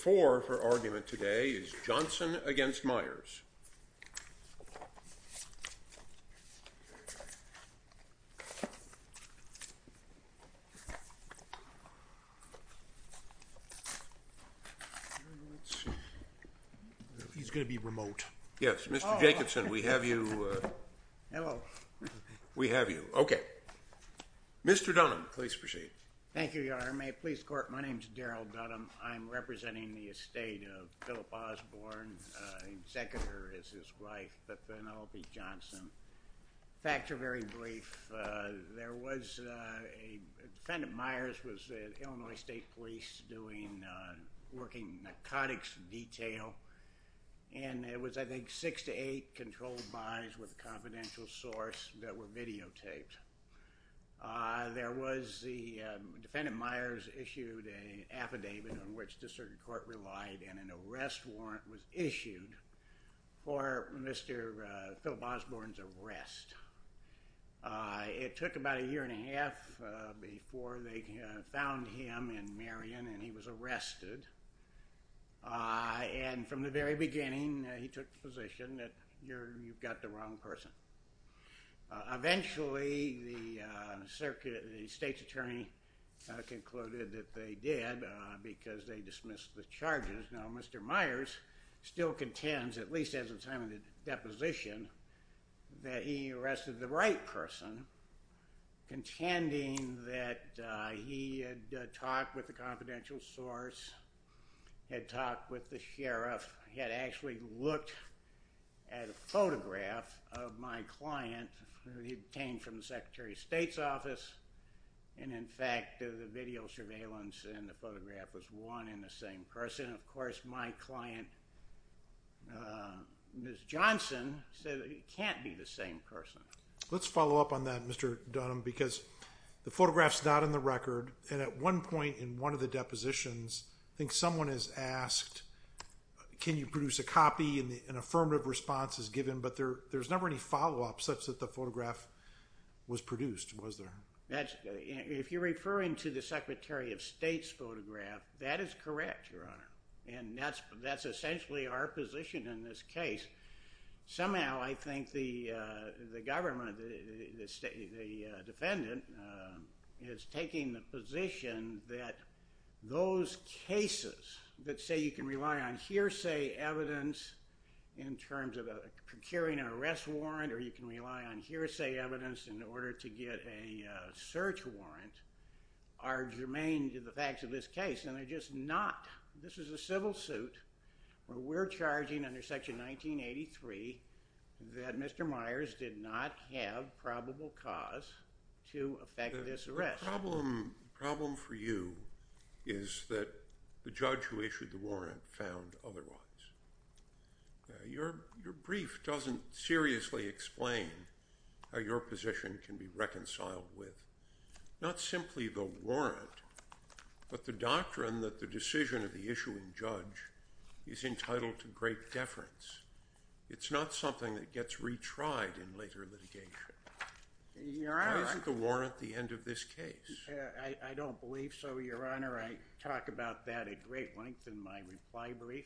4. Johnson v. Meyers He's going to be remote. Yes. Mr. Jacobsen, we have you. Hello. We have you. OK. Mr. Dunham, please proceed. Thank you, Your Honor. May it please the court, my name's Darrell Dunham. I'm representing the estate of Philip Osborne. His secretary is his wife, Phynelophi Johnson. Facts are very brief. There was a, defendant Meyers was the Illinois State Police doing, working narcotics detail. And it was, I think, six to eight controlled buys with a confidential source that were videotaped. There was the, defendant Meyers issued an affidavit on which the circuit court relied, and an arrest warrant was issued for Mr. Philip Osborne's arrest. It took about a year and a half before they found him in Marion, and he was arrested. And from the very beginning, he took the position that you've got the wrong person. Eventually, the circuit, the state's attorney concluded that they did, because they dismissed the charges. Now, Mr. Meyers still contends, at least at the time of the deposition, that he had talked with the confidential source, had talked with the sheriff, had actually looked at a photograph of my client that he obtained from the Secretary of State's office. And in fact, the video surveillance and the photograph was one and the same person. Of course, my client, Ms. Johnson, said it can't be the same person. Let's follow up on that, Mr. Dunham, because the photograph's not in the record. And at one point in one of the depositions, I think someone has asked, can you produce a copy? And an affirmative response is given, but there's never any follow-up such that the photograph was produced, was there? If you're referring to the Secretary of State's photograph, that is correct, Your Honor. And that's essentially our position in this case. Somehow, I think the government, the defendant, is taking the position that those cases that say you can rely on hearsay evidence in terms of procuring an arrest warrant, or you can rely on hearsay evidence in order to get a search warrant, are germane to the facts of this case. And they're just not. This is a civil suit where we're charging under Section 1983 that Mr. Myers did not have probable cause to affect this arrest. The problem for you is that the judge who issued the warrant found otherwise. Your brief doesn't seriously explain how your position can be reconciled with, not simply the warrant, but the doctrine that the decision of the issuing judge is entitled to great deference. It's not something that gets retried in later litigation. Your Honor. Why isn't the warrant the end of this case? I don't believe so, Your Honor. I talk about that at great length in my reply brief.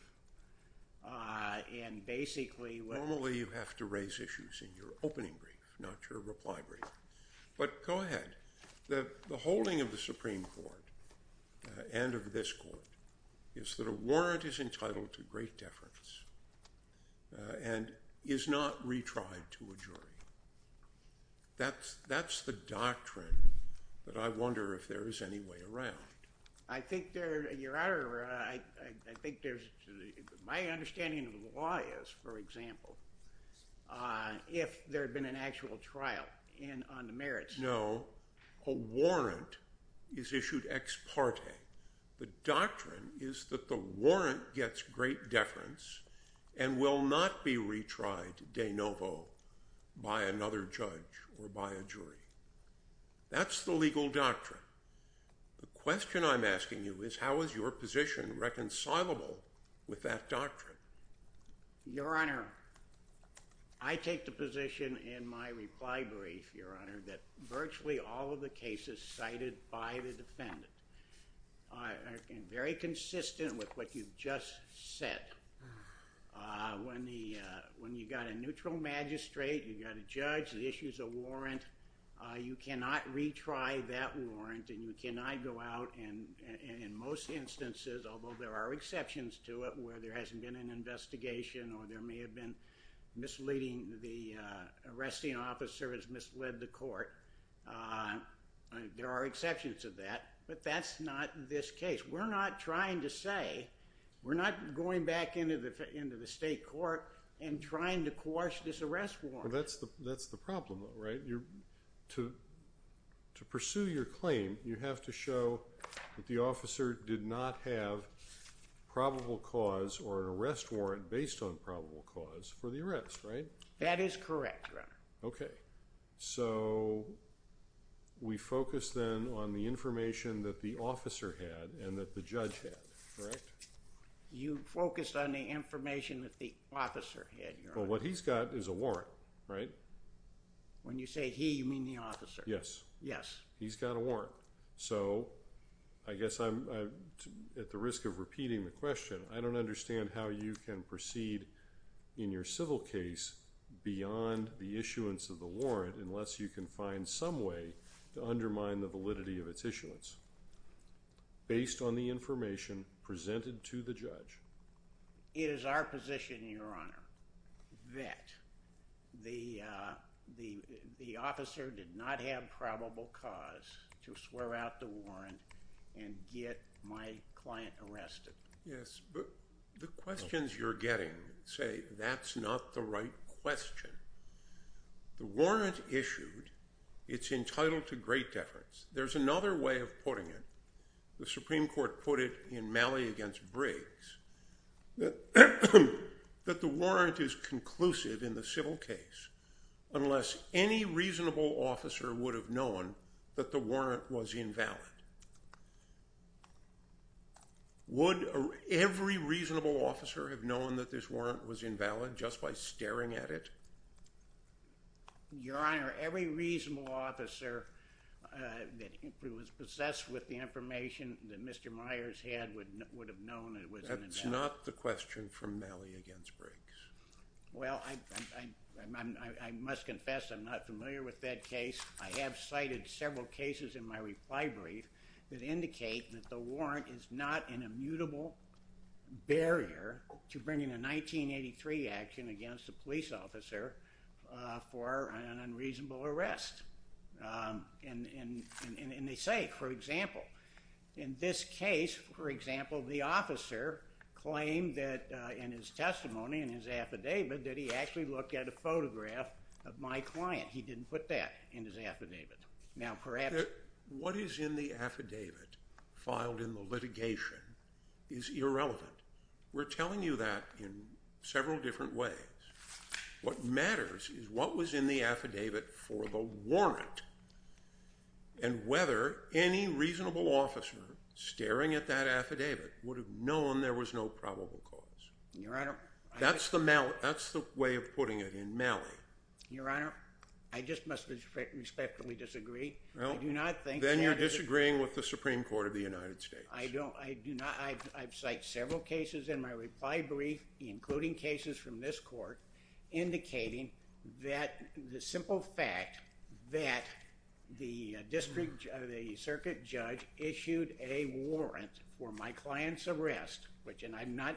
And basically, what- Normally, you have to raise issues in your opening brief, not your reply brief. But go ahead. The holding of the Supreme Court, and of this court, is that a warrant is entitled to great deference and is not retried to a jury. That's the doctrine that I wonder if there is any way around. I think there- Your Honor, I think there's- My understanding of the law is, for example, if there had been an actual trial on the merits- No. A warrant is issued ex parte. The doctrine is that the warrant gets great deference and will not be retried de novo by another judge or by a jury. That's the legal doctrine. The question I'm asking you is, how is your position reconcilable with that doctrine? Your Honor, I take the position in my reply brief, Your Honor, that virtually all of the cases cited by the defendant are very consistent with what you've just said. When you've got a neutral magistrate, you've got a judge, the issue's a warrant, you cannot retry that warrant, and you cannot go out, and in most instances, although there are exceptions to it, where there hasn't been an investigation or there may have been misleading, the arresting officer has misled the court, there are exceptions to that, but that's not this case. We're not trying to say, we're not going back into the state court and trying to coerce this arrest warrant. That's the problem, though, right? To pursue your claim, you have to show that the officer did not have probable cause or an arrest warrant based on probable cause for the arrest, right? That is correct, Your Honor. Okay, so we focus, then, on the information that the officer had and that the judge had, correct? You focused on the information that the officer had, Your Honor. Well, what he's got is a warrant, right? When you say he, you mean the officer. Yes. Yes. He's got a warrant. So I guess I'm at the risk of repeating the question. I don't understand how you can proceed in your civil case beyond the issuance of the warrant unless you can find some way to undermine the validity of its issuance based on the information presented to the judge. It is our position, Your Honor, that the officer did not have probable cause to swear out the warrant and get my client arrested. Yes, but the questions you're getting say that's not the right question. The warrant issued, it's entitled to great deference. There's another way of putting it. The Supreme Court put it in Malley v. Briggs that the warrant is conclusive in the civil case unless any reasonable officer would have known that the warrant was invalid. Would every reasonable officer have known that this warrant was invalid just by staring at it? Your Honor, every reasonable officer that was possessed with the information that Mr. Myers had would have known it was invalid. That's not the question from Malley v. Briggs. Well, I must confess I'm not familiar with that case. I have cited several cases in my reply brief that indicate that the warrant is not an immutable barrier to bringing a 1983 action against a police officer for an unreasonable arrest. And they say, for example, in this case, for example, the officer claimed that in his testimony, in his affidavit, that he actually looked at a photograph of my client. He didn't put that in his affidavit. Now, perhaps. What is in the affidavit filed in the litigation is irrelevant. We're telling you that in several different ways. What matters is what was in the affidavit for the warrant and whether any reasonable officer staring at that affidavit would have known there was no probable cause. Your Honor. That's the way of putting it in Malley. Your Honor, I just must respectfully disagree. Well, then you're disagreeing with the Supreme Court of the United States. I don't, I do not, I've cited several cases in my reply brief, including cases from this court, indicating that the simple fact that the district, the circuit judge issued a warrant for my client's arrest, which and I'm not,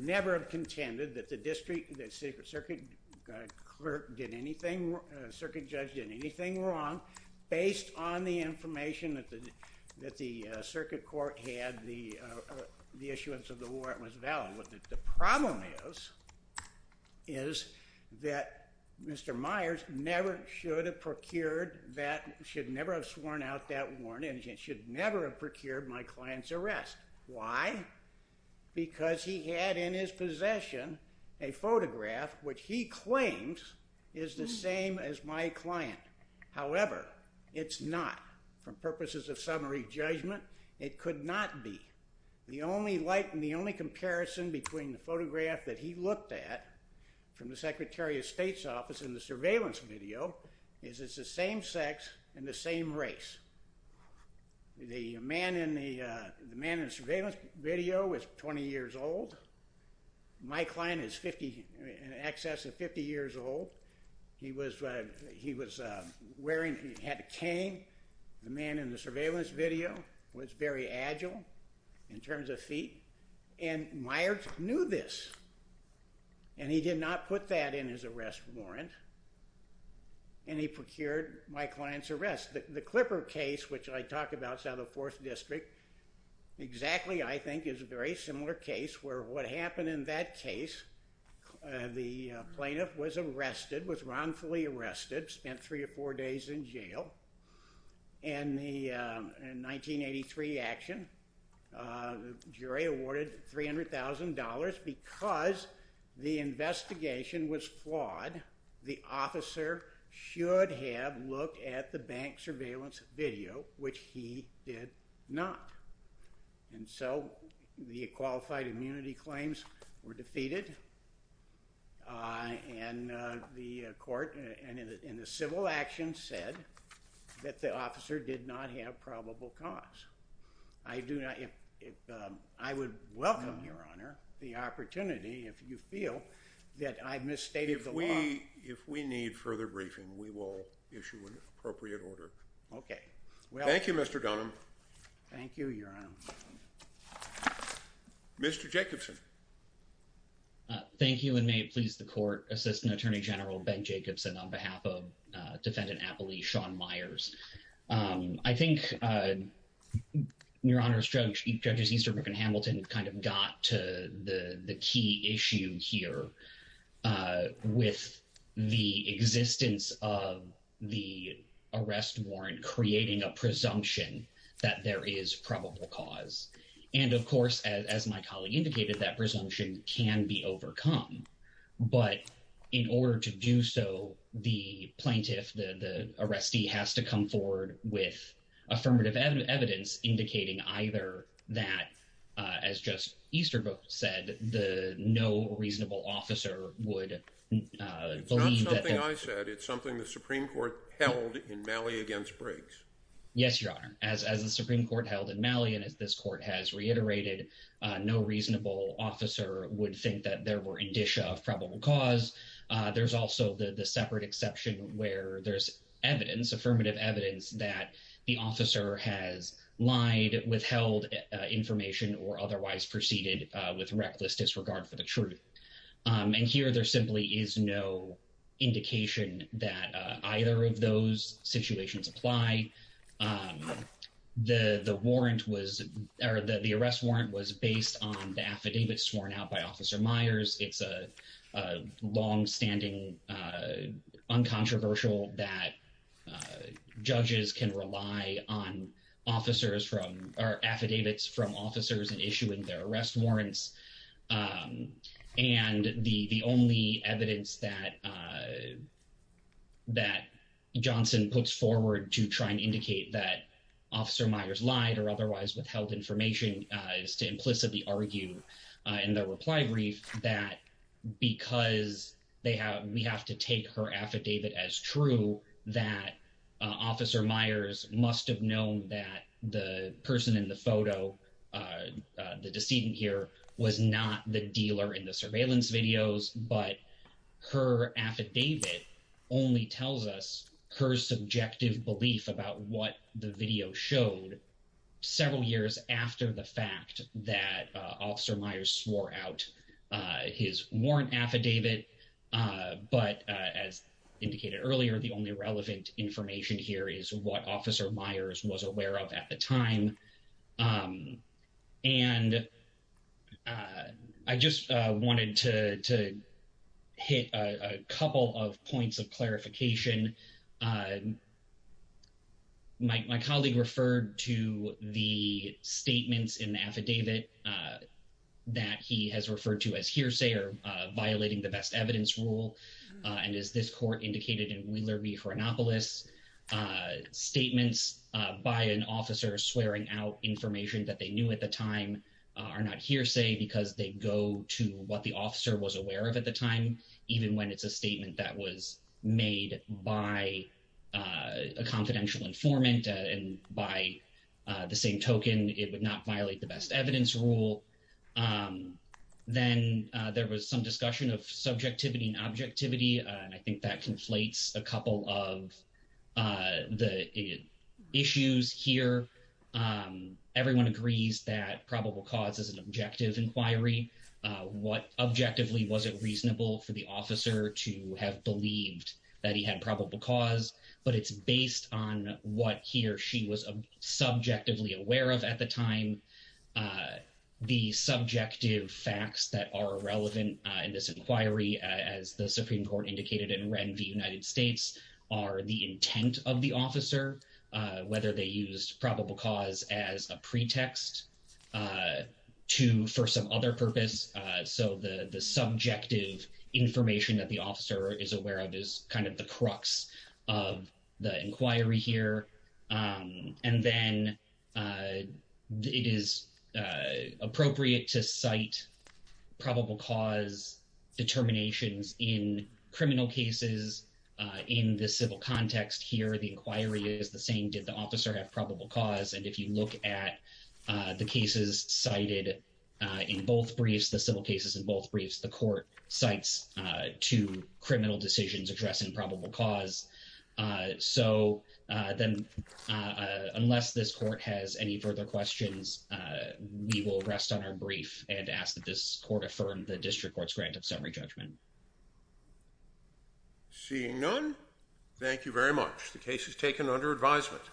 never have contended that the district, the secret circuit clerk did anything, circuit judge did anything wrong based on the information that the circuit court had the issuance of the warrant was valid with it. The problem is, is that Mr. Myers never should have procured that, should never have sworn out that warrant and should never have procured my client's arrest. Why? Because he had in his possession a photograph which he claims is the same as my client. However, it's not. For purposes of summary judgment, it could not be. The only light and the only comparison between the photograph that he looked at from the Secretary of State's office in the surveillance video is it's the same sex and the same race. The man in the surveillance video was 20 years old. My client is 50, in excess of 50 years old. He was wearing, he had a cane. The man in the surveillance video was very agile in terms of feet and Myers knew this and he did not put that in his arrest warrant and he procured my client's arrest. The Clipper case, which I talk about, it's out of Fourth District, exactly, I think, is a very similar case where what happened in that case, the plaintiff was arrested, was wrongfully arrested, spent three or four days in jail. In the 1983 action, the jury awarded $300,000 because the investigation was flawed. The officer should have looked at the bank surveillance video, which he did not and so the qualified immunity claims were defeated and the court and the civil action said that the officer did not have probable cause. I would welcome, Your Honor, the opportunity, if you feel that I've misstated the law. If we need further briefing, we will issue an appropriate order. Okay. Thank you, Mr. Dunham. Thank you, Your Honor. Mr. Jacobson. Thank you and may it please the court, Assistant Attorney General Ben Jacobson on behalf of Defendant Appley, Sean Myers. I think, Your Honor, Judges Easterbrook and Hamilton kind of got to the key issue here with the existence of the arrest warrant creating a presumption that there is probable cause and of course, as my colleague indicated, that presumption can be overcome, but in order to do so, the plaintiff, the arrestee has to come forward with affirmative evidence indicating either that, as Judge Easterbrook said, the no reasonable officer would believe that- It's not something I said. It's something the Supreme Court held in Malley against Briggs. Yes, Your Honor. As the Supreme Court held in Malley and as this court has reiterated, no reasonable officer would think that there were indicia of probable cause. There's also the separate exception where there's evidence, affirmative evidence, that the officer has lied, withheld information or otherwise proceeded with reckless disregard for the truth. And here there simply is no indication that either of those situations apply. The warrant was, or the arrest warrant was based on the affidavits sworn out by Officer Myers. It's a longstanding, uncontroversial that judges can rely on officers from, or affidavits from officers in issuing their arrest warrants. And the only evidence that Johnson puts forward to try and indicate that Officer Myers lied or otherwise withheld information is to implicitly argue in the reply brief that because we have to take her affidavit as true that Officer Myers must have known that the person in the photo, the decedent here, was not the dealer in the surveillance videos, but her affidavit only tells us her subjective belief about what the video showed several years after the fact that Officer Myers swore out his warrant affidavit. But as indicated earlier, the only relevant information here is what Officer Myers was aware of at the time. And I just wanted to hit a couple of points of clarification. My colleague referred to the statements in the affidavit that he has referred to as hearsay or violating the best evidence rule. And as this court indicated in Wheeler v. Fernopolis, statements by an officer swearing out information that they knew at the time are not hearsay because they go to what the officer was aware of at the time, even when it's a statement that was made by a confidential informant and by the same token, it would not violate the best evidence rule. Then there was some discussion of subjectivity and objectivity. And I think that conflates a couple of the issues here. Everyone agrees that probable cause is an objective inquiry. What objectively was it reasonable for the officer to have believed that he had probable cause, but it's based on what he or she was subjectively aware of at the time. The subjective facts that are relevant in this inquiry as the Supreme Court indicated in Ren v. United States are the intent of the officer, whether they used probable cause as a pretext to for some other purpose. So the subjective information that the officer is aware of is kind of the crux of the inquiry here. And then it is appropriate to cite probable cause determinations in criminal cases. In the civil context here, the inquiry is the same. Did the officer have probable cause? And if you look at the cases cited in both briefs, the civil cases in both briefs, the court cites two criminal decisions addressing probable cause. So then unless this court has any further questions, we will rest on our brief and ask that this court affirm the district court's grant of summary judgment. Seeing none. Thank you very much. The case is taken under advisement.